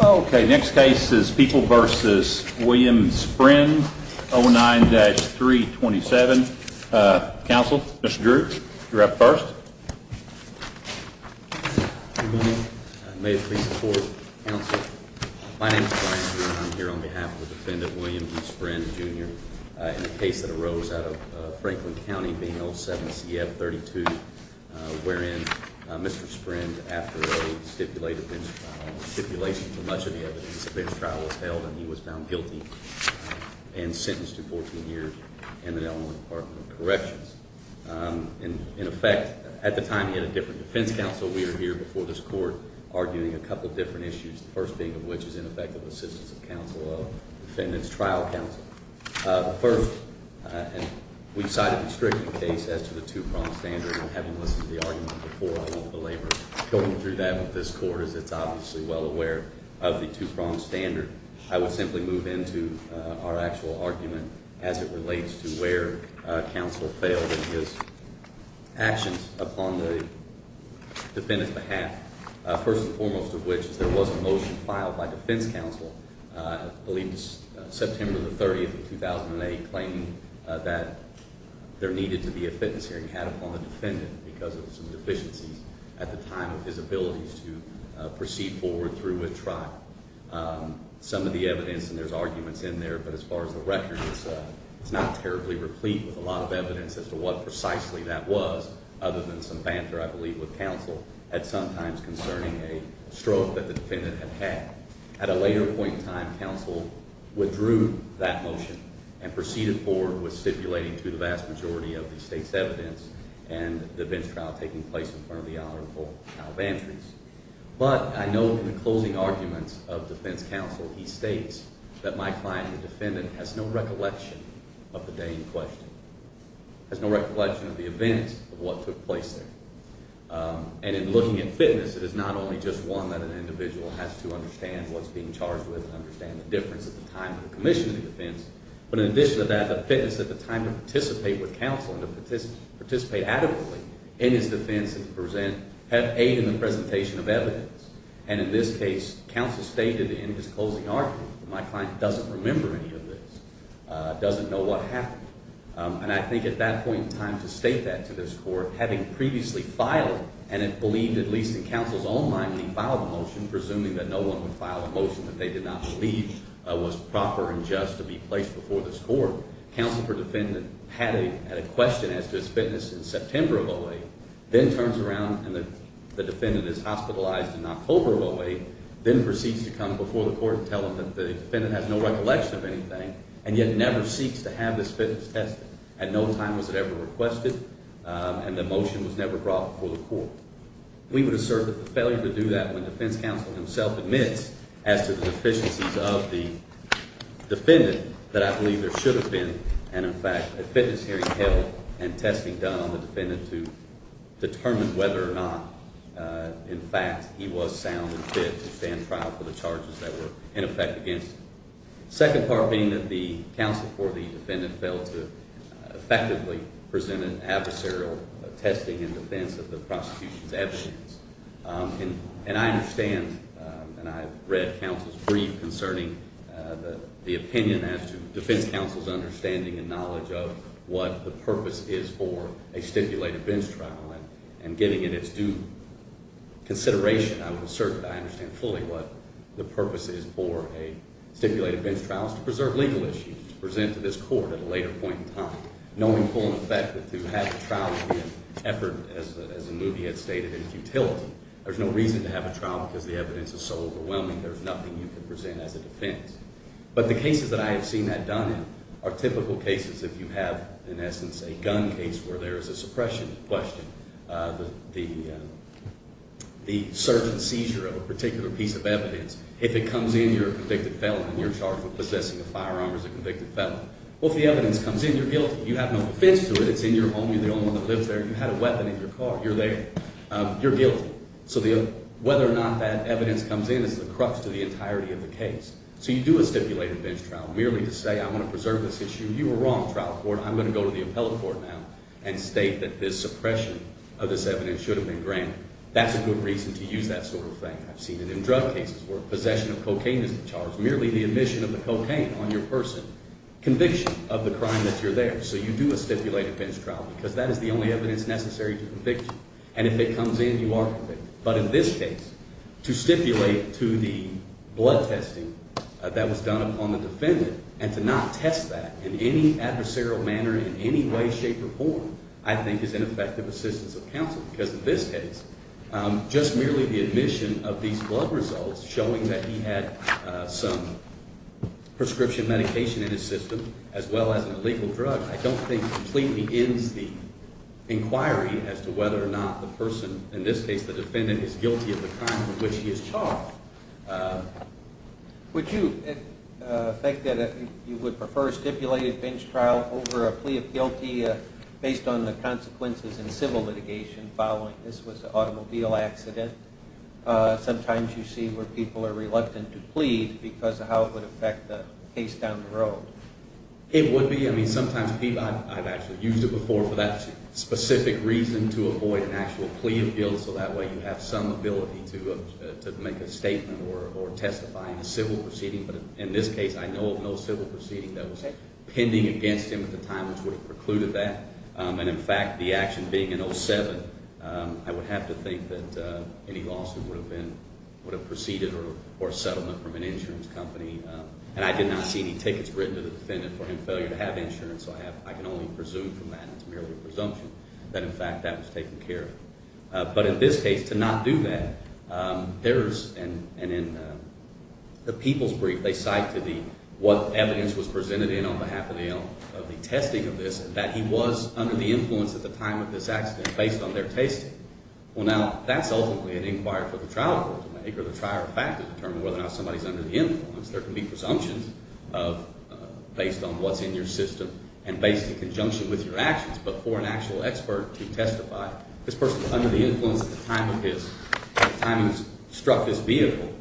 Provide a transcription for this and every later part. Ok, next case is People v. William Sprind 09-327. Counsel, Mr. Drew, you're up first. Good morning. May it please the court, counsel. My name is Brian Drew and I'm here on behalf of the defendant William E. Sprind Jr. in the case that arose out of Franklin County being 07-CF32 wherein Mr. Sprind, after a stipulation for much of the evidence, a bench trial was held and he was found guilty and sentenced to 14 years in the Illinois Department of Corrections. In effect, at the time he had a different defense counsel. We are here before this court arguing a couple different issues, the first being of which is ineffective assistance of counsel of the defendant's trial counsel. First, we cited a stricter case as to the two-pronged standard and having listened to the argument before, I won't belabor going through that with this court as it's obviously well aware of the two-pronged standard. I would simply move into our actual argument as it relates to where counsel failed in his actions upon the defendant's behalf. First and foremost of which is there was a motion filed by defense counsel, I believe it was September 30, 2008, claiming that there needed to be a fitness hearing had upon the defendant because of some deficiencies at the time of his abilities to proceed forward through with trial. Some of the evidence, and there's arguments in there, but as far as the record itself, it's not terribly replete with a lot of evidence as to what precisely that was other than some banter I believe with counsel at sometimes concerning a stroke that the defendant had had. At a later point in time, counsel withdrew that motion and proceeded forward with stipulating to the vast majority of the state's evidence and the bench trial taking place in front of the Honorable Al Vantries. But I know in the closing arguments of defense counsel, he states that my client, the defendant, has no recollection of the day in question, has no recollection of the events of what took place there. And in looking at fitness, it is not only just one that an individual has to understand what's being charged with and understand the difference at the time of the commission of the defense, but in addition to that, the fitness at the time to participate with counsel and to participate adequately in his defense and to present, have aid in the presentation of evidence. And in this case, counsel stated in his closing argument that my client doesn't remember any of this, doesn't know what happened. And I think at that point in time to state that to this Court, having previously filed, and had believed at least in counsel's own mind when he filed the motion, presuming that no one would file a motion that they did not believe was proper and just to be placed before this Court, counsel for defendant had a question as to his fitness in September of 08, then turns around and the defendant is hospitalized in October of 08, then proceeds to come before the Court and tell them that the defendant has no recollection of anything and yet never seeks to have this fitness tested. At no time was it ever requested, and the motion was never brought before the Court. We would assert that the failure to do that when defense counsel himself admits as to the deficiencies of the defendant that I believe there should have been, and in fact, a fitness hearing held and testing done on the defendant to determine whether or not, in fact, he was sound and fit to stand trial for the charges that were in effect against him. The second part being that the counsel for the defendant failed to effectively present an adversarial testing in defense of the prosecution's evidence. And I understand, and I've read counsel's brief concerning the opinion as to defense counsel's understanding and knowledge of what the purpose is for a stipulated bench trial, and giving it its due consideration, I would assert that I understand fully what the purpose is for a stipulated bench trial is to preserve legal issues, to present to this Court at a later point in time, knowing full and effective to have the trial be an effort, as the movie had stated, in futility. There's no reason to have a trial because the evidence is so overwhelming, there's nothing you can present as a defense. But the cases that I have seen that done in are typical cases if you have, in essence, a gun case where there is a suppression question, the search and seizure of a particular piece of evidence. If it comes in, you're a convicted felon, and you're charged with possessing a firearm as a convicted felon. Well, if the evidence comes in, you're guilty. You have no defense to it, it's in your home, you're the only one that lives there, you had a weapon in your car, you're there, you're guilty. So whether or not that evidence comes in is the crux to the entirety of the case. So you do a stipulated bench trial merely to say, I want to preserve this issue, you were wrong, trial court, I'm going to go to the appellate court now and state that this suppression of this evidence should have been granted. That's a good reason to use that sort of thing. I've seen it in drug cases where possession of cocaine is the charge, merely the admission of the cocaine on your person, conviction of the crime that you're there. So you do a stipulated bench trial because that is the only evidence necessary to convict you. And if it comes in, you are convicted. But in this case, to stipulate to the blood testing that was done upon the defendant and to not test that in any adversarial manner, in any way, shape, or form, I think is ineffective assistance of counsel. Because in this case, just merely the admission of these blood results showing that he had some prescription medication in his system as well as an illegal drug, I don't think completely ends the inquiry as to whether or not the person, in this case the defendant, is guilty of the crime for which he is charged. Would you think that you would prefer a stipulated bench trial over a plea of guilty based on the consequences in civil litigation following this was an automobile accident? Sometimes you see where people are reluctant to plead because of how it would affect the case down the road. It would be. I mean, sometimes people, I've actually used it before, so that way you have some ability to make a statement or testify in a civil proceeding. But in this case, I know of no civil proceeding that was pending against him at the time which would have precluded that. And in fact, the action being in 07, I would have to think that any lawsuit would have been, would have preceded or settlement from an insurance company. And I did not see any tickets written to the defendant for him failing to have insurance, so I can only presume from that, and it's merely a presumption, that in fact that was taken care of. But in this case, to not do that, there is, and in the people's brief, they cite to the, what evidence was presented in on behalf of the testing of this, that he was under the influence at the time of this accident based on their testing. Well, now, that's ultimately an inquiry for the trial court to make, or the trial fact to determine whether or not somebody's under the influence. There can be presumptions based on what's in your system and based in conjunction with your actions. But for an actual expert to testify, this person was under the influence at the time of his, at the time he struck his vehicle,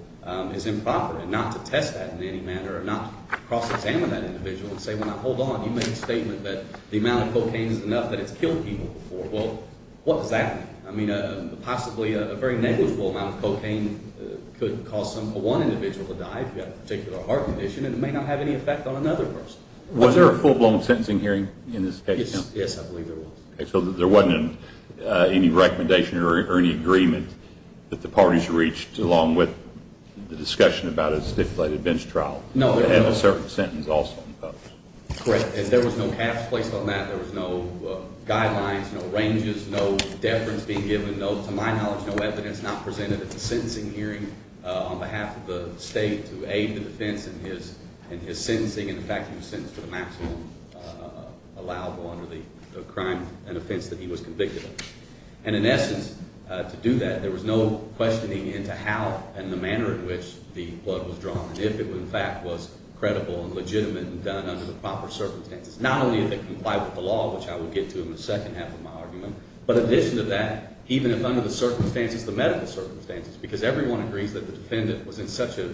is improper. And not to test that in any manner or not cross-examine that individual and say, well, now, hold on, you made a statement that the amount of cocaine is enough that it's killed people before. Well, what does that mean? I mean, possibly a very negligible amount of cocaine could cause one individual to die if you have a particular heart condition, and it may not have any effect on another person. Was there a full-blown sentencing hearing in this case? Yes, I believe there was. So there wasn't any recommendation or any agreement that the parties reached, along with the discussion about a stipulated bench trial, that had a certain sentence also imposed? Correct. And there was no caps placed on that. There was no guidelines, no ranges, no deference being given, no, to my knowledge, no evidence not presented at the sentencing hearing on behalf of the state to aid the defense in his sentencing and the fact that he was sentenced to the maximum allowable under the crime and offense that he was convicted of. And in essence, to do that, there was no questioning into how and the manner in which the blood was drawn and if it, in fact, was credible and legitimate and done under the proper circumstances, not only if it complied with the law, which I will get to in the second half of my argument, but in addition to that, even if under the circumstances, the medical circumstances, because everyone agrees that the defendant was in such a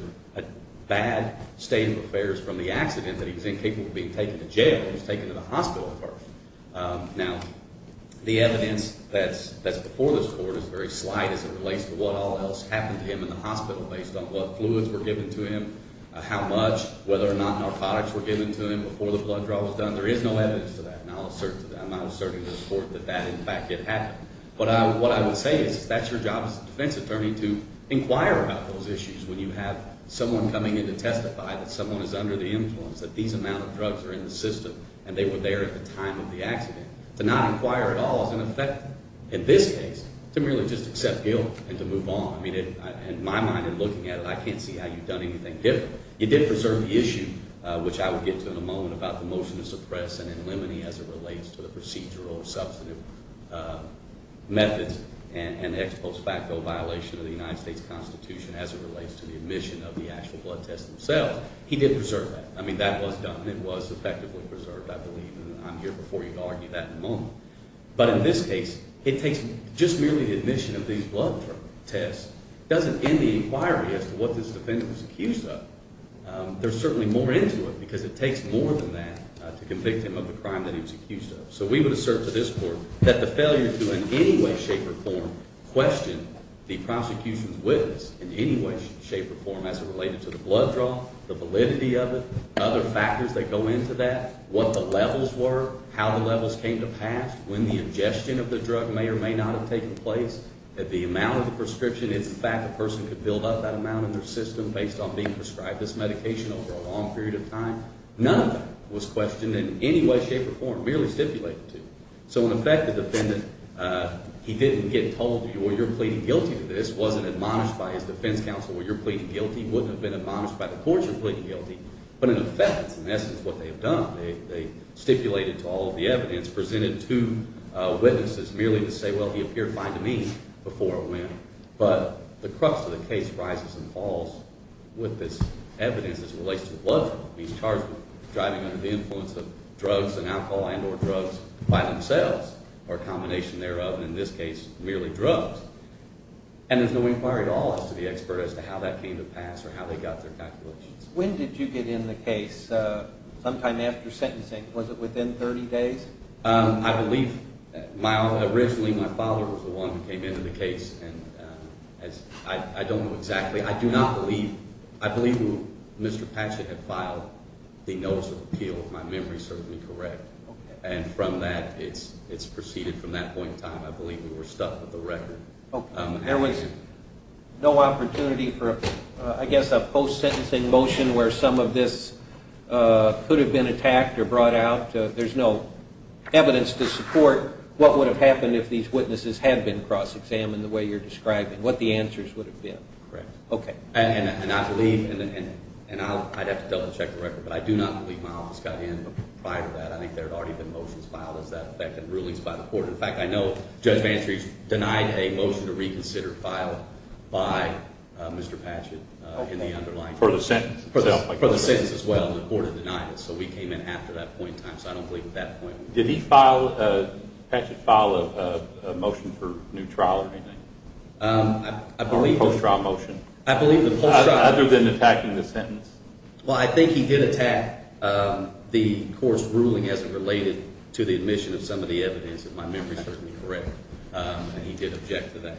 bad state of affairs from the accident that he was incapable of being taken to jail. He was taken to the hospital first. Now, the evidence that's before this Court is very slight as it relates to what all else happened to him in the hospital based on what fluids were given to him, how much, whether or not narcotics were given to him before the blood draw was done. There is no evidence to that, and I'll assert to that. I might assert in this Court that that, in fact, did happen. But what I would say is that's your job as a defense attorney to inquire about those issues when you have someone coming in to testify that someone is under the influence, that these amount of drugs are in the system and they were there at the time of the accident. To not inquire at all is ineffective in this case. To merely just accept guilt and to move on. I mean, in my mind, in looking at it, I can't see how you've done anything different. You did preserve the issue, which I will get to in a moment, about the motion to suppress and eliminate as it relates to the procedural substantive methods and the ex post facto violation of the United States Constitution as it relates to the admission of the actual blood test themselves. He did preserve that. I mean, that was done. It was effectively preserved, I believe, and I'm here before you to argue that in a moment. But in this case, it takes just merely the admission of these blood tests doesn't end the inquiry as to what this defendant was accused of. There's certainly more into it because it takes more than that to convict him of the crime that he was accused of. So we would assert to this court that the failure to in any way, shape, or form question the prosecution's witness in any way, shape, or form as it related to the blood draw, the validity of it, other factors that go into that, what the levels were, how the levels came to pass, when the ingestion of the drug may or may not have taken place, the amount of the prescription, it's the fact the person could build up that amount in their system based on being prescribed this medication over a long period of time. None of that was questioned in any way, shape, or form, merely stipulated to. So in effect, the defendant, he didn't get told, well, you're pleading guilty to this. It wasn't admonished by his defense counsel, well, you're pleading guilty. It wouldn't have been admonished by the courts you're pleading guilty. But in effect, that's in essence what they've done. They stipulated to all of the evidence, presented two witnesses merely to say, well, he appeared fine to me before it went. But the crux of the case rises and falls with this evidence as it relates to the blood draw. He's charged with driving under the influence of drugs and alcohol and or drugs by themselves or a combination thereof, and in this case, merely drugs. And there's no inquiry at all as to the expert as to how that came to pass or how they got their calculations. When did you get in the case sometime after sentencing? Was it within 30 days? I believe originally my father was the one who came into the case. I don't know exactly. I do not believe. I believe Mr. Patchett had filed the notice of appeal if my memory serves me correct. And from that, it's proceeded from that point in time. I believe we were stuck with the record. There was no opportunity for, I guess, a post-sentencing motion where some of this could have been attacked or brought out. There's no evidence to support what would have happened if these witnesses had been cross-examined the way you're describing, what the answers would have been. Correct. Okay. And I believe, and I'd have to double-check the record, but I do not believe my office got in prior to that. I think there had already been motions filed as that affected rulings by the court. In fact, I know Judge Bantrey denied a motion to reconsider filed by Mr. Patchett in the underlying case. For the sentence. For the sentence as well, and the court had denied it. So we came in after that point in time, so I don't believe at that point. Did he file a motion for new trial or anything? I believe the post-trial motion. I believe the post-trial motion. Other than attacking the sentence? Well, I think he did attack the court's ruling as it related to the admission of some of the evidence, if my memory serves me correct, and he did object to that.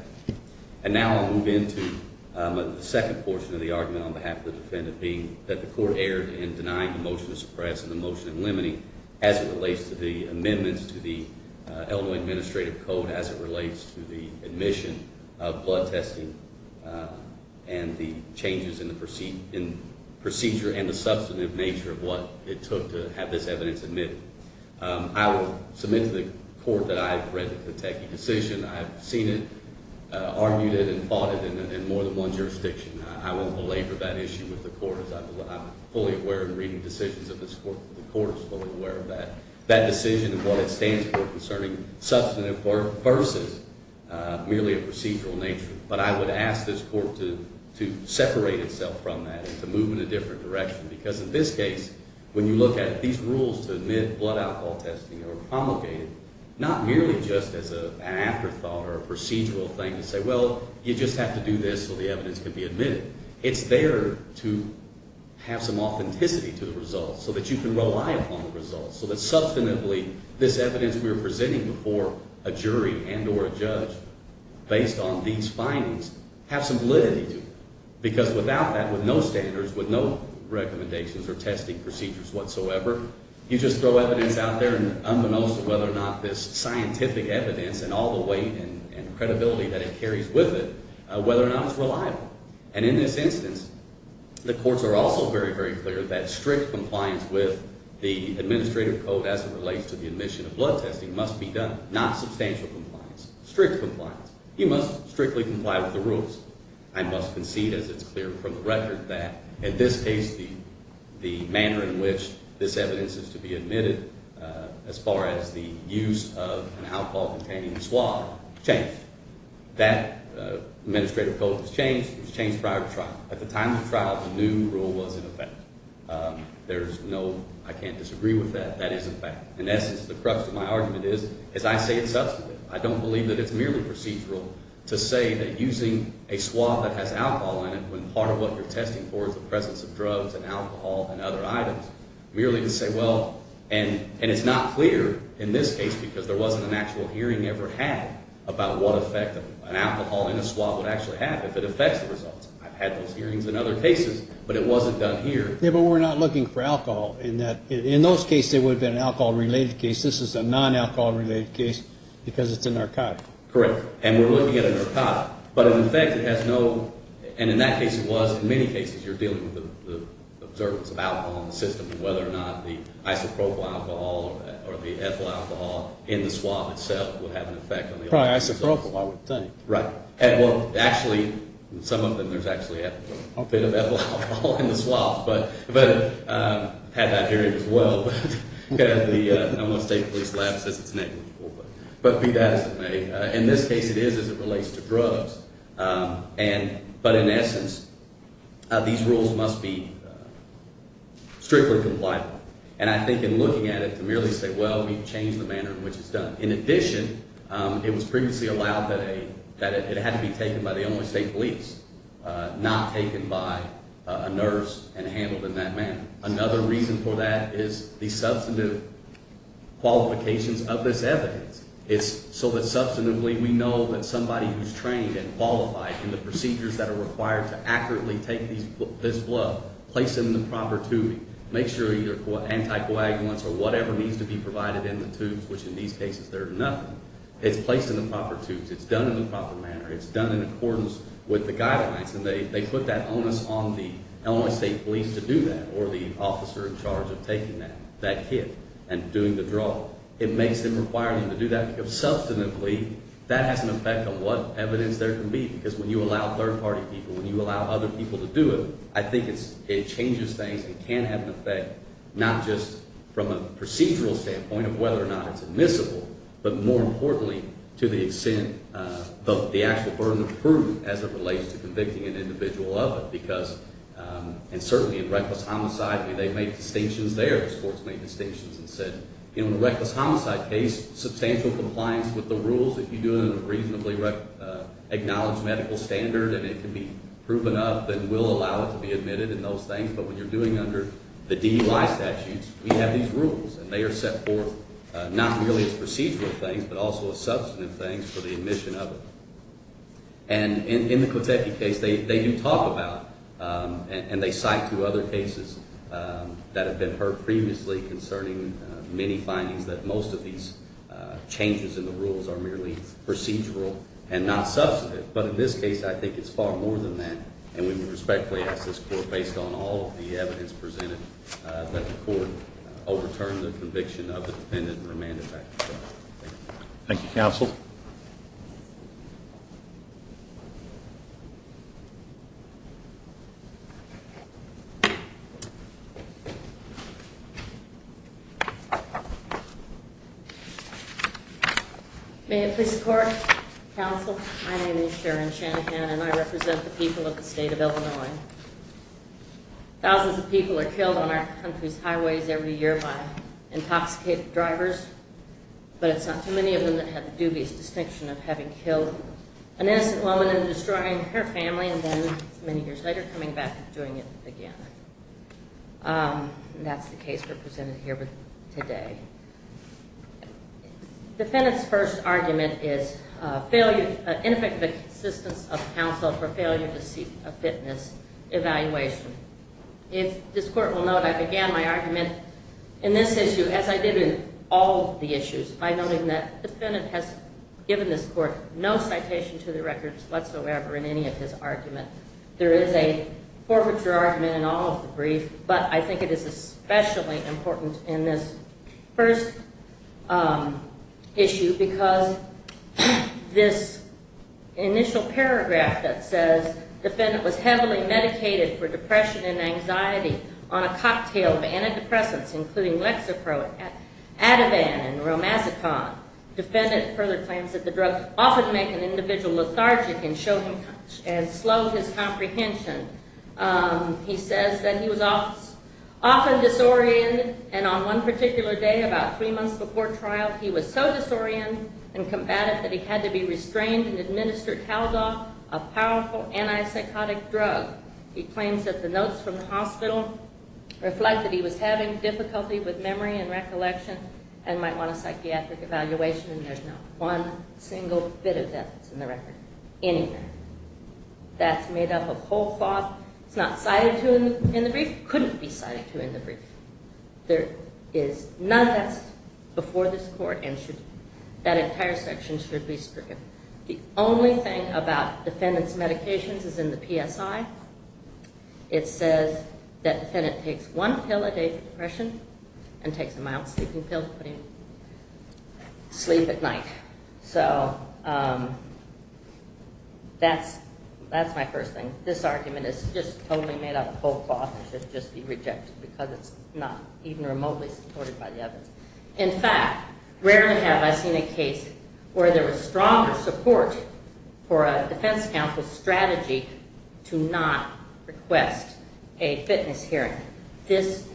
And now I'll move into the second portion of the argument on behalf of the defendant, being that the court erred in denying the motion to suppress and the motion in limiting as it relates to the amendments to the Illinois Administrative Code, as it relates to the admission of blood testing and the changes in the procedure and the substantive nature of what it took to have this evidence admitted. I will submit to the court that I have read the Pateki decision. I have seen it, argued it, and fought it in more than one jurisdiction. I won't belabor that issue with the court as I'm fully aware in reading decisions of this court. The court is fully aware of that. That decision and what it stands for concerning substantive versus merely a procedural nature. But I would ask this court to separate itself from that and to move in a different direction because in this case, when you look at these rules to admit blood alcohol testing are promulgated, not merely just as an afterthought or a procedural thing to say, well, you just have to do this so the evidence can be admitted. It's there to have some authenticity to the results so that you can rely upon the results, so that substantively this evidence we are presenting before a jury and or a judge based on these findings have some validity to it. Because without that, with no standards, with no recommendations or testing procedures whatsoever, you just throw evidence out there and unbeknownst to whether or not this scientific evidence and all the weight and credibility that it carries with it, whether or not it's reliable. And in this instance, the courts are also very, very clear that strict compliance with the administrative code as it relates to the admission of blood testing must be done, not substantial compliance, strict compliance. You must strictly comply with the rules. I must concede, as it's clear from the record, that in this case the manner in which this evidence is to be admitted as far as the use of an alcohol-containing swab changed. That administrative code was changed. It was changed prior to trial. At the time of the trial, the new rule was in effect. There's no, I can't disagree with that. That is a fact. In essence, the crux of my argument is, as I say it substantively, I don't believe that it's merely procedural to say that using a swab that has alcohol in it when part of what you're testing for is the presence of drugs and alcohol and other items, merely to say, well, and it's not clear in this case because there wasn't an actual hearing ever had about what effect an alcohol in a swab would actually have if it affects the results. I've had those hearings in other cases, but it wasn't done here. Yeah, but we're not looking for alcohol in that. In those cases, it would have been an alcohol-related case. This is a non-alcohol-related case because it's a narcotic. Correct. And we're looking at a narcotic. But in effect, it has no, and in that case it was. Because in many cases, you're dealing with the observance of alcohol in the system and whether or not the isopropyl alcohol or the ethyl alcohol in the swab itself would have an effect. Probably isopropyl, I would think. Right. Well, actually, in some of them, there's actually a bit of ethyl alcohol in the swab. But I've had that hearing as well. The state police lab says it's negligible. But be that as it may, in this case, it is as it relates to drugs. But in essence, these rules must be strictly compliant. And I think in looking at it, to merely say, well, we've changed the manner in which it's done. In addition, it was previously allowed that it had to be taken by the Illinois State Police, not taken by a nurse and handled in that manner. Another reason for that is the substantive qualifications of this evidence. It's so that, substantively, we know that somebody who's trained and qualified in the procedures that are required to accurately take this blood, place it in the proper tubing, make sure either anticoagulants or whatever needs to be provided in the tubes, which in these cases, there's nothing. It's placed in the proper tubes. It's done in the proper manner. It's done in accordance with the guidelines. And they put that onus on the Illinois State Police to do that or the officer in charge of taking that kit and doing the draw. It makes them require them to do that because, substantively, that has an effect on what evidence there can be. Because when you allow third-party people, when you allow other people to do it, I think it changes things and can have an effect, not just from a procedural standpoint of whether or not it's admissible, but more importantly to the extent of the actual burden of proof as it relates to convicting an individual of it. Because, and certainly in reckless homicide, they made distinctions there. Sports made distinctions and said, you know, in a reckless homicide case, substantial compliance with the rules, if you do it in a reasonably acknowledged medical standard and it can be proven up, then we'll allow it to be admitted and those things. But when you're doing under the DEY statutes, we have these rules, and they are set forth not merely as procedural things but also as substantive things for the admission of it. And in the Kotecki case, they do talk about and they cite two other cases that have been heard previously concerning many findings that most of these changes in the rules are merely procedural and not substantive. But in this case, I think it's far more than that, and we would respectfully ask this court, based on all of the evidence presented, that the court overturn the conviction of the defendant and remand it back to the court. Thank you. Thank you, counsel. Thank you. May it please the court, counsel, my name is Sharon Shanahan, and I represent the people of the state of Illinois. Thousands of people are killed on our country's highways every year by intoxicated drivers, but it's not too many of them that have a dubious distinction of having killed an innocent woman and destroying her family and then, many years later, coming back and doing it again. And that's the case we're presenting here today. Defendant's first argument is ineffective assistance of counsel for failure to seek a fitness evaluation. If this court will note, I began my argument in this issue, as I did in all of the issues, by noting that the defendant has given this court no citation to the records whatsoever in any of his arguments. There is a forfeiture argument in all of the briefs, but I think it is especially important in this first issue because this initial paragraph that says, defendant was heavily medicated for depression and anxiety on a cocktail of antidepressants, including Lexapro, Ativan, and Romasicon. Defendant further claims that the drugs often make an individual lethargic and slow his comprehension. He says that he was often disoriented, and on one particular day, about three months before trial, he was so disoriented and combative that he had to be restrained and administer Taldoff, a powerful antipsychotic drug. He claims that the notes from the hospital reflect that he was having difficulty with memory and recollection and might want a psychiatric evaluation, and there's not one single bit of that that's in the record anywhere. That's made up of whole cloth. It's not cited to him in the brief. It couldn't be cited to him in the brief. There is none of that before this court, and that entire section should be stricken. The only thing about defendant's medications is in the PSI. It says that defendant takes one pill a day for depression and takes a mild sleeping pill to put him to sleep at night. So that's my first thing. This argument is just totally made up of whole cloth and should just be rejected because it's not even remotely supported by the evidence. In fact, rarely have I seen a case where there was stronger support for a defense counsel's strategy to not request a fitness hearing. This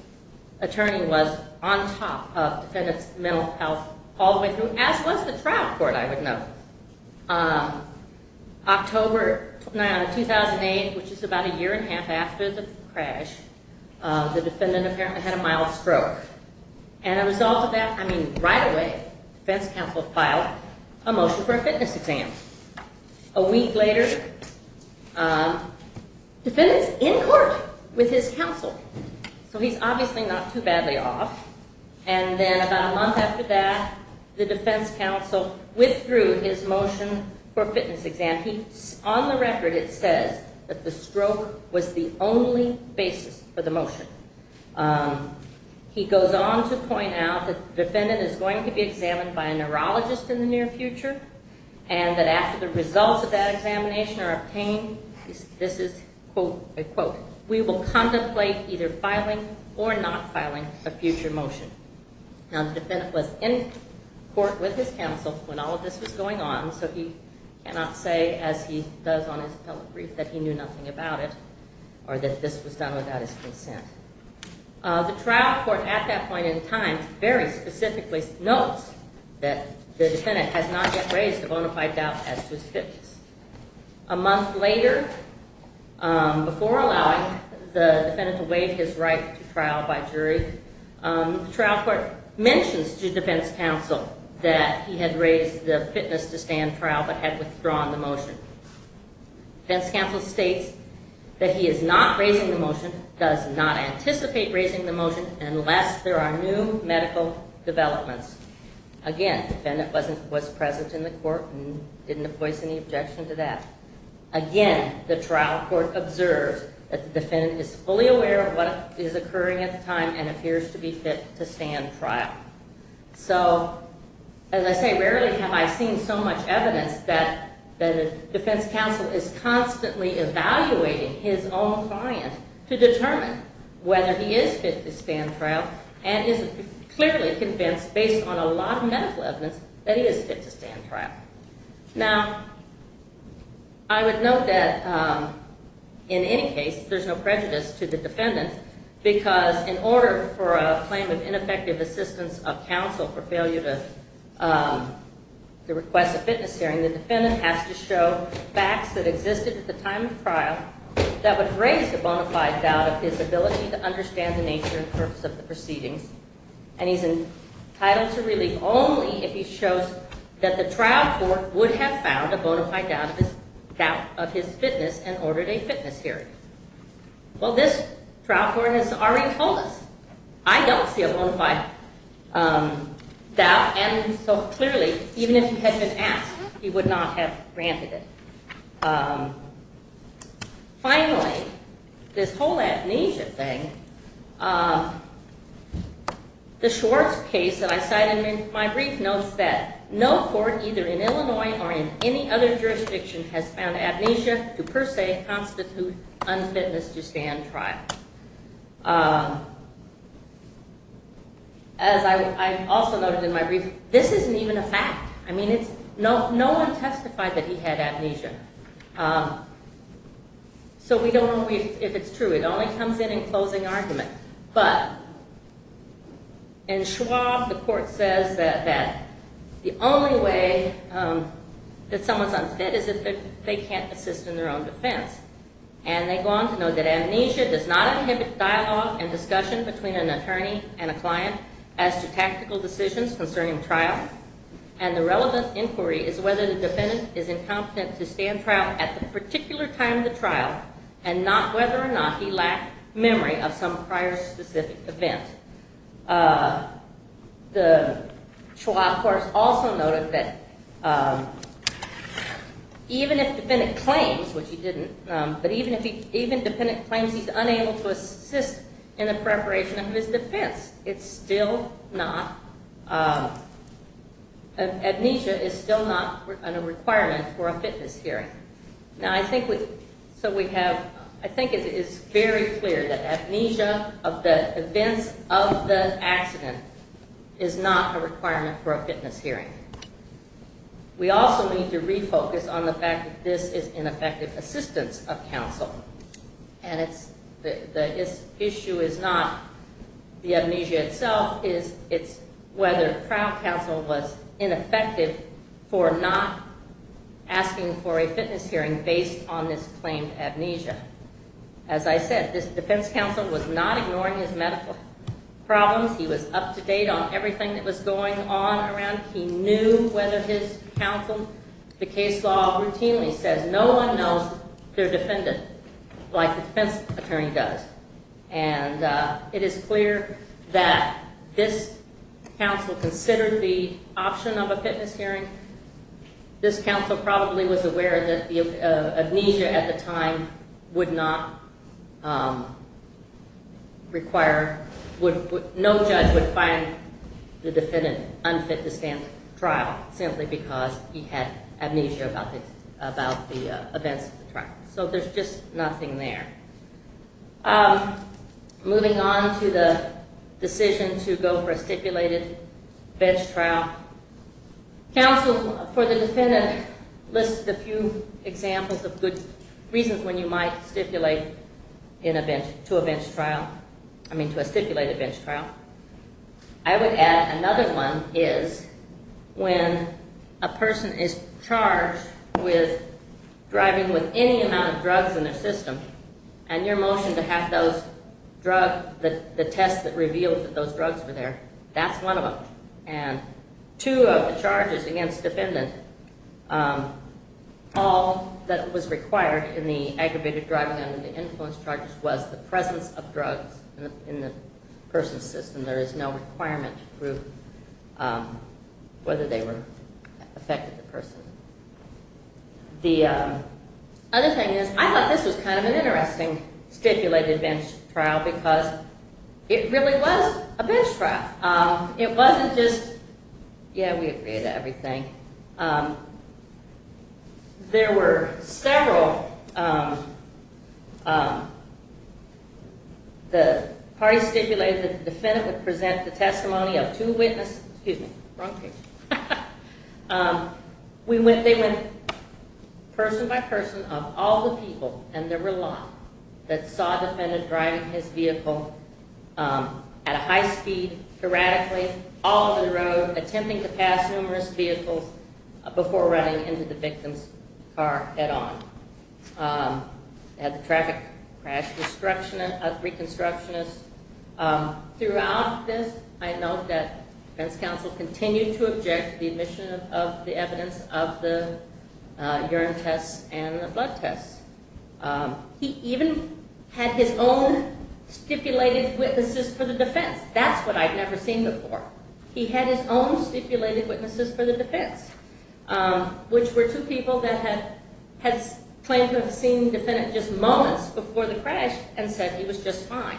attorney was on top of defendant's mental health all the way through, as was the trial court, I would note. October 2008, which is about a year and a half after the crash, the defendant apparently had a mild stroke. And as a result of that, I mean right away, defense counsel filed a motion for a fitness exam. A week later, defendant's in court with his counsel. So he's obviously not too badly off. And then about a month after that, the defense counsel withdrew his motion for a fitness exam. On the record, it says that the stroke was the only basis for the motion. He goes on to point out that the defendant is going to be examined by a neurologist in the near future, and that after the results of that examination are obtained, this is, quote, unquote, we will contemplate either filing or not filing a future motion. Now, the defendant was in court with his counsel when all of this was going on, so he cannot say, as he does on his telebrief, that he knew nothing about it or that this was done without his consent. The trial court at that point in time very specifically notes that the defendant has not yet raised a bona fide doubt as to his fitness. A month later, before allowing the defendant to waive his right to trial by jury, the trial court mentions to defense counsel that he had raised the fitness to stand trial but had withdrawn the motion. Defense counsel states that he is not raising the motion, does not anticipate raising the motion, unless there are new medical developments. Again, the defendant was present in the court and didn't voice any objection to that. Again, the trial court observes that the defendant is fully aware of what is occurring at the time and appears to be fit to stand trial. So, as I say, rarely have I seen so much evidence that a defense counsel is constantly evaluating his own client to determine whether he is fit to stand trial and is clearly convinced, based on a lot of medical evidence, that he is fit to stand trial. Now, I would note that, in any case, there's no prejudice to the defendant because in order for a claim of ineffective assistance of counsel or for failure to request a fitness hearing, the defendant has to show facts that existed at the time of the trial that would raise the bona fide doubt of his ability to understand the nature and purpose of the proceedings. And he's entitled to relief only if he shows that the trial court would have found a bona fide doubt of his fitness and ordered a fitness hearing. Well, this trial court has already told us. I don't see a bona fide doubt, and so clearly, even if he had been asked, he would not have granted it. Finally, this whole amnesia thing, the Schwartz case that I cite in my brief notes that no court, either in Illinois or in any other jurisdiction, has found amnesia to per se constitute unfitness to stand trial. As I also noted in my brief, this isn't even a fact. I mean, no one testified that he had amnesia. So we don't know if it's true. It only comes in in closing argument. But in Schwartz, the court says that the only way that someone's unfit is if they can't assist in their own defense. And they go on to note that amnesia does not inhibit dialogue and discussion between an attorney and a client as to tactical decisions concerning trial, and the relevant inquiry is whether the defendant is incompetent to stand trial at the particular time of the trial and not whether or not he lacked memory of some prior specific event. The trial court also noted that even if the defendant claims, which he didn't, but even if the defendant claims he's unable to assist in the preparation of his defense, it's still not, amnesia is still not a requirement for a fitness hearing. Now, I think it is very clear that amnesia of the events of the accident is not a requirement for a fitness hearing. We also need to refocus on the fact that this is ineffective assistance of counsel, and the issue is not the amnesia itself, it's whether trial counsel was ineffective for not asking for a fitness hearing based on this claimed amnesia. As I said, this defense counsel was not ignoring his medical problems. He was up to date on everything that was going on around. He knew whether his counsel, the case law routinely says, no one knows their defendant like the defense attorney does. And it is clear that this counsel considered the option of a fitness hearing. This counsel probably was aware that amnesia at the time would not require, no judge would find the defendant unfit to stand trial, simply because he had amnesia about the events of the trial. So there's just nothing there. Moving on to the decision to go for a stipulated bench trial, counsel for the defendant lists a few examples of good reasons when you might stipulate to a stipulated bench trial. I would add another one is when a person is charged with driving with any amount of drugs in their system, and you're motioned to have those drugs, the test that reveals that those drugs were there, that's one of them. And two of the charges against the defendant, all that was required in the aggravated driving under the influence charges was the presence of drugs in the person's system. There is no requirement to prove whether they were affecting the person. The other thing is I thought this was kind of an interesting stipulated bench trial because it really was a bench trial. It wasn't just, yeah, we agree to everything. There were several parties stipulated that the defendant would present the testimony of two witnesses. Excuse me, wrong page. They went person by person of all the people, and there were a lot, that saw a defendant driving his vehicle at a high speed, erratically, all over the road, attempting to pass numerous vehicles before running into the victim's car head on. They had the traffic crash reconstructionist. Throughout this, I note that defense counsel continued to object to the admission of the evidence of the urine tests and the blood tests. He even had his own stipulated witnesses for the defense. That's what I'd never seen before. He had his own stipulated witnesses for the defense, which were two people that had claimed to have seen the defendant just moments before the crash and said he was just fine.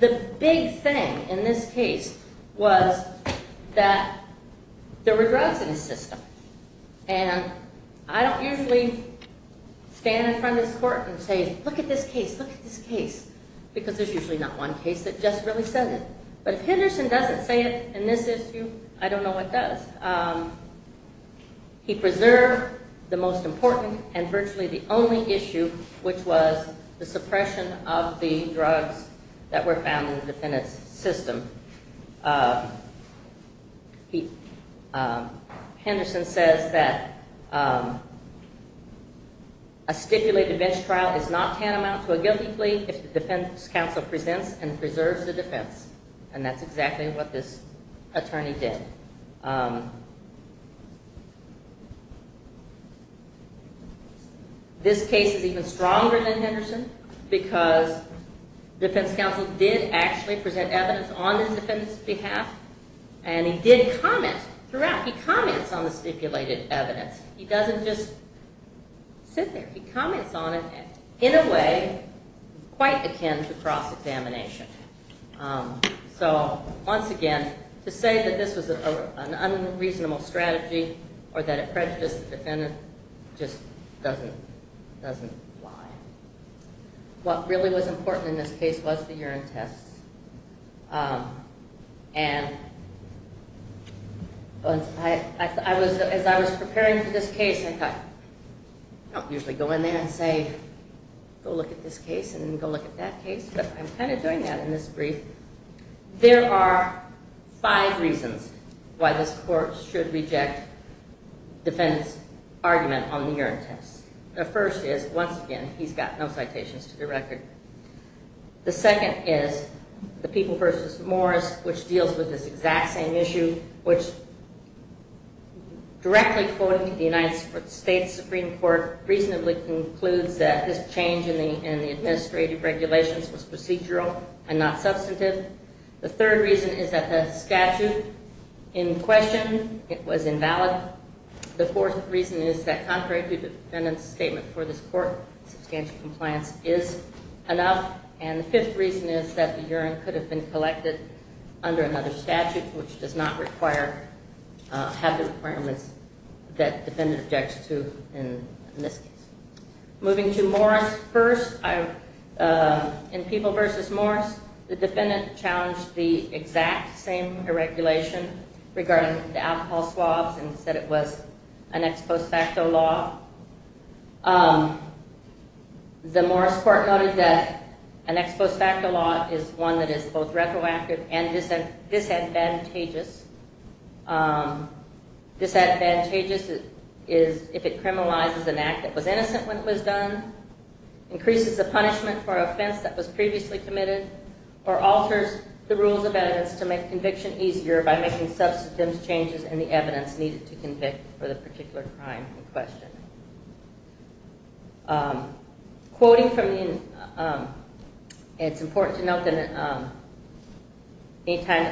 The big thing in this case was that there were drugs in his system, and I don't usually stand in front of this court and say, look at this case, look at this case, because there's usually not one case that just really says it. But if Henderson doesn't say it in this issue, I don't know what does. He preserved the most important and virtually the only issue, which was the suppression of the drugs that were found in the defendant's system. Henderson says that a stipulated bench trial is not tantamount to a guilty plea if the defense counsel presents and preserves the defense, and that's exactly what this attorney did. Because the defense counsel did actually present evidence on the defendant's behalf, and he did comment throughout. He comments on the stipulated evidence. He doesn't just sit there. He comments on it in a way quite akin to cross-examination. So once again, to say that this was an unreasonable strategy or that it prejudiced the defendant just doesn't lie. What really was important in this case was the urine tests. And as I was preparing for this case, I thought, I don't usually go in there and say, go look at this case and go look at that case, but I'm kind of doing that in this brief. There are five reasons why this court should reject the defendant's argument on the urine tests. The first is, once again, he's got no citations to the record. The second is the People v. Morris, which deals with this exact same issue, which directly quoting the United States Supreme Court reasonably concludes that this change in the administrative regulations was procedural and not substantive. The third reason is that the statute in question, it was invalid. The fourth reason is that contrary to the defendant's statement before this court, substantial compliance is enough. And the fifth reason is that the urine could have been collected under another statute, which does not have the requirements that the defendant objects to in this case. Moving to Morris first, in People v. Morris, the defendant challenged the exact same regulation regarding the alcohol swabs and said it was an ex post facto law. The Morris court noted that an ex post facto law is one that is both retroactive and disadvantageous. Disadvantageous is if it criminalizes an act that was innocent when it was done, increases the punishment for an offense that was previously committed, or alters the rules of evidence to make conviction easier by making substantive changes in the evidence needed to convict for the particular crime in question. Quoting from the, it's important to note that any time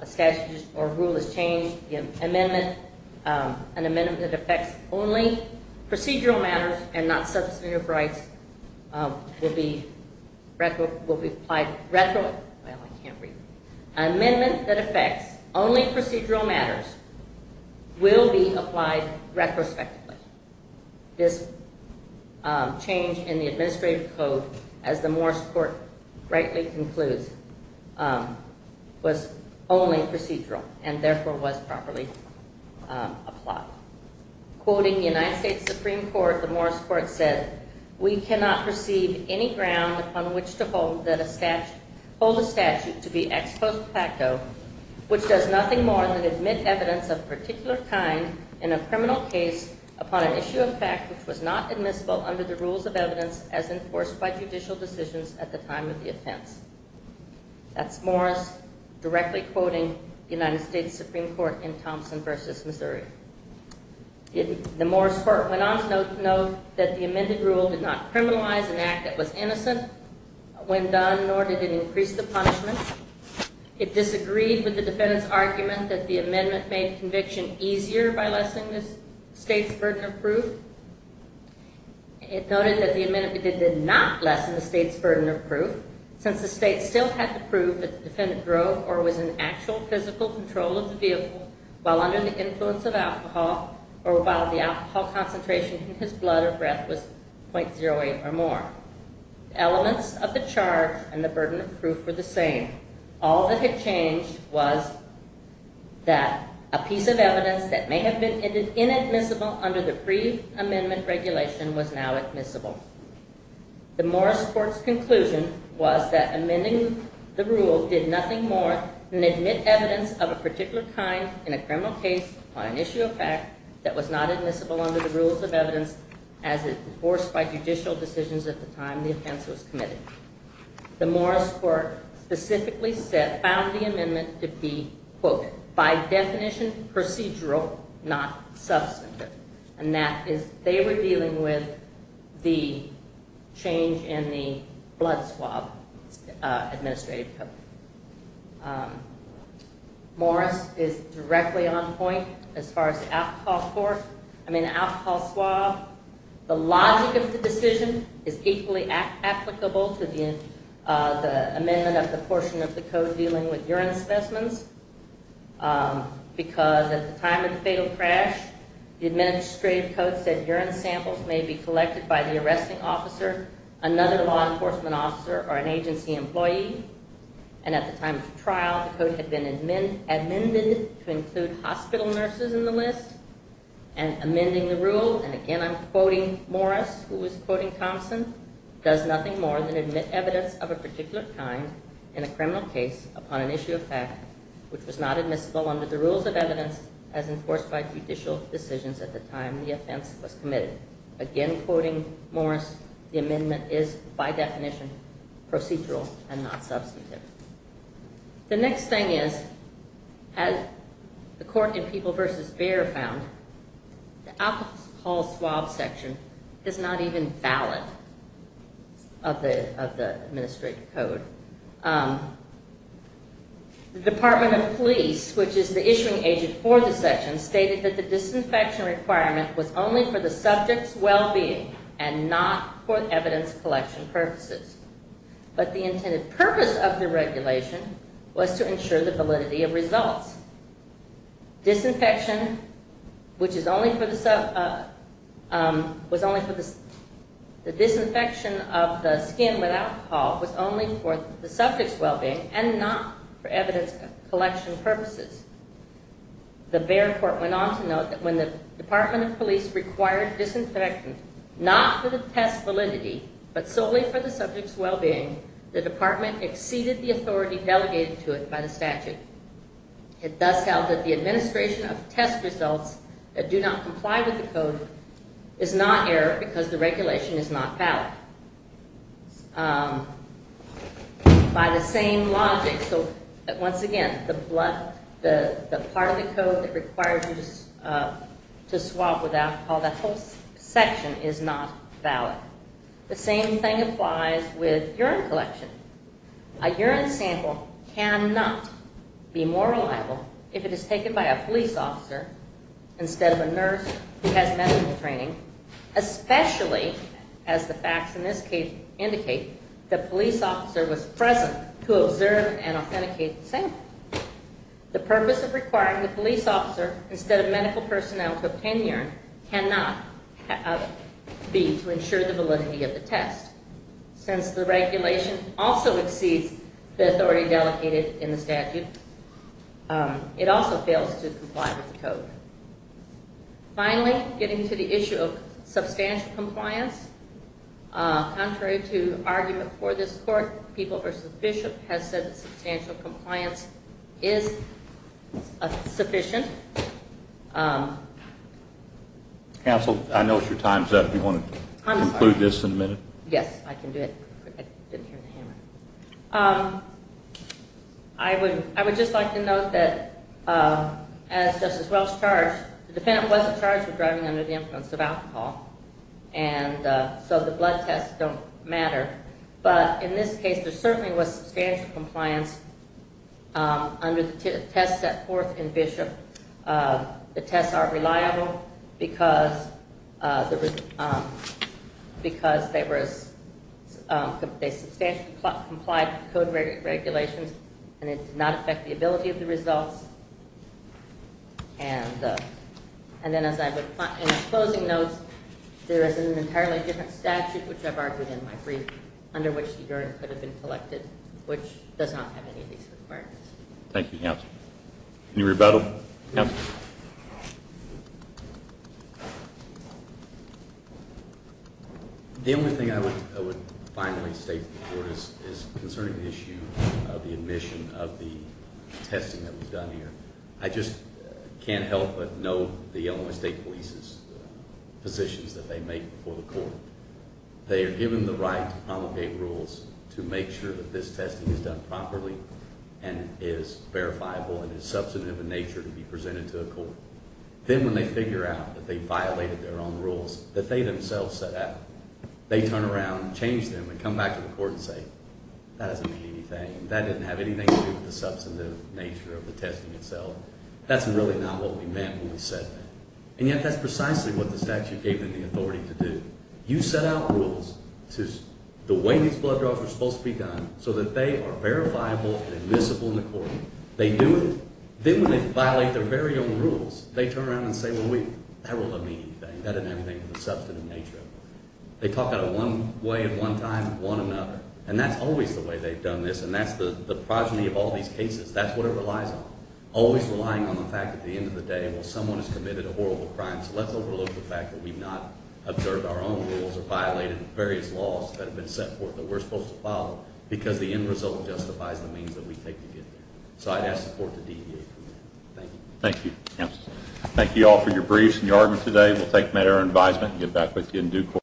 a statute or rule is changed, the amendment, an amendment that affects only procedural matters and not substantive rights will be applied retro, well I can't read, an amendment that affects only procedural matters will be applied retrospectively. This change in the administrative code, as the Morris court rightly concludes, was only procedural and therefore was properly applied. Quoting the United States Supreme Court, the Morris court said, we cannot receive any ground upon which to hold a statute to be ex post facto, which does nothing more than admit evidence of a particular kind in a criminal case upon an issue of fact which was not admissible under the rules of evidence as enforced by judicial decisions at the time of the offense. That's Morris directly quoting the United States Supreme Court in Thompson v. Missouri. The Morris court went on to note that the amended rule did not criminalize an act that was innocent when done nor did it increase the punishment. It disagreed with the defendant's argument that the amendment made conviction easier by lessening the state's burden of proof. It noted that the amendment did not lessen the state's burden of proof since the state still had to prove that the defendant drove or was in actual physical control of the vehicle while under the influence of alcohol or while the alcohol concentration in his blood or breath was .08 or more. Elements of the charge and the burden of proof were the same. All that had changed was that a piece of evidence that may have been inadmissible under the pre-amendment regulation was now admissible. The Morris court's conclusion was that amending the rule did nothing more than admit evidence of a particular kind in a criminal case on an issue of fact that was not admissible under the rules of evidence as enforced by judicial decisions at the time the offense was committed. The Morris court specifically found the amendment to be, quote, by definition procedural, not substantive. And that is they were dealing with the change in the blood swab administrative code. Morris is directly on point as far as the alcohol swab. The logic of the decision is equally applicable to the amendment of the portion of the code dealing with urine specimens because at the time of the fatal crash the administrative code said urine samples may be collected by the arresting officer, another law enforcement officer, or an agency employee. And at the time of the trial the code had been amended to include hospital nurses in the list. And amending the rule, and again I'm quoting Morris who was quoting Thompson, does nothing more than admit evidence of a particular kind in a criminal case upon an issue of fact which was not admissible under the rules of evidence as enforced by judicial decisions at the time the offense was committed. Again, quoting Morris, the amendment is by definition procedural and not substantive. The next thing is, as the court in People v. Baird found, the alcohol swab section is not even valid of the administrative code. The Department of Police, which is the issuing agent for the section, stated that the disinfection requirement was only for the subject's well-being and not for evidence collection purposes. But the intended purpose of the regulation was to ensure the validity of results. Disinfection of the skin with alcohol was only for the subject's well-being and not for evidence collection purposes. The Baird court went on to note that when the Department of Police required disinfectant not for the test validity but solely for the subject's well-being, the department exceeded the authority delegated to it by the statute. It thus held that the administration of test results that do not comply with the code is not error because the regulation is not valid. By the same logic, once again, the part of the code that requires you to swab with alcohol, that whole section, is not valid. The same thing applies with urine collection. A urine sample cannot be more reliable if it is taken by a police officer instead of a nurse who has medical training, especially as the facts in this case indicate that the police officer was present to observe and authenticate the sample. The purpose of requiring the police officer instead of medical personnel to obtain urine cannot be to ensure the validity of the test since the regulation also exceeds the authority delegated in the statute. It also fails to comply with the code. Finally, getting to the issue of substantial compliance, contrary to argument for this court, People v. Bishop has said that substantial compliance is sufficient. Counsel, I know your time is up. Do you want to conclude this in a minute? Yes, I can do it. I would just like to note that as Justice Welch charged, the defendant wasn't charged with driving under the influence of alcohol, and so the blood tests don't matter. But in this case, there certainly was substantial compliance Under the test set forth in Bishop, the tests are reliable because they substantially complied with the code regulations and it did not affect the ability of the results. And then in closing notes, there is an entirely different statute, which I've argued in my brief, under which urine could have been collected, which does not have any of these requirements. Thank you, Counsel. Can you rebuttal, Counsel? The only thing I would finally state to the Court is concerning the issue of the admission of the testing that was done here. I just can't help but know the Illinois State Police's positions that they make before the Court. They are given the right to promulgate rules to make sure that this testing is done properly and is verifiable and is substantive in nature to be presented to a Court. Then when they figure out that they violated their own rules that they themselves set out, they turn around and change them and come back to the Court and say, that doesn't mean anything, that doesn't have anything to do with the substantive nature of the testing itself. That's really not what we meant when we said that. And yet that's precisely what the statute gave them the authority to do. You set out rules to, the way these blood draws were supposed to be done, so that they are verifiable and admissible in the Court. They do it, then when they violate their very own rules, they turn around and say, well wait, that doesn't mean anything, that doesn't have anything to do with the substantive nature of it. They talk about it one way at one time, one another. And that's always the way they've done this, and that's the progeny of all these cases. That's what it relies on. Always relying on the fact that at the end of the day, well someone has committed a horrible crime, so let's overlook the fact that we've not observed our own rules or violated various laws that have been set forth that we're supposed to follow, because the end result justifies the means that we take to get there. So I'd ask support to DEA. Thank you. Thank you. Thank you all for your briefs and your arguments today. We'll take them at our advisement and get back with you in due course.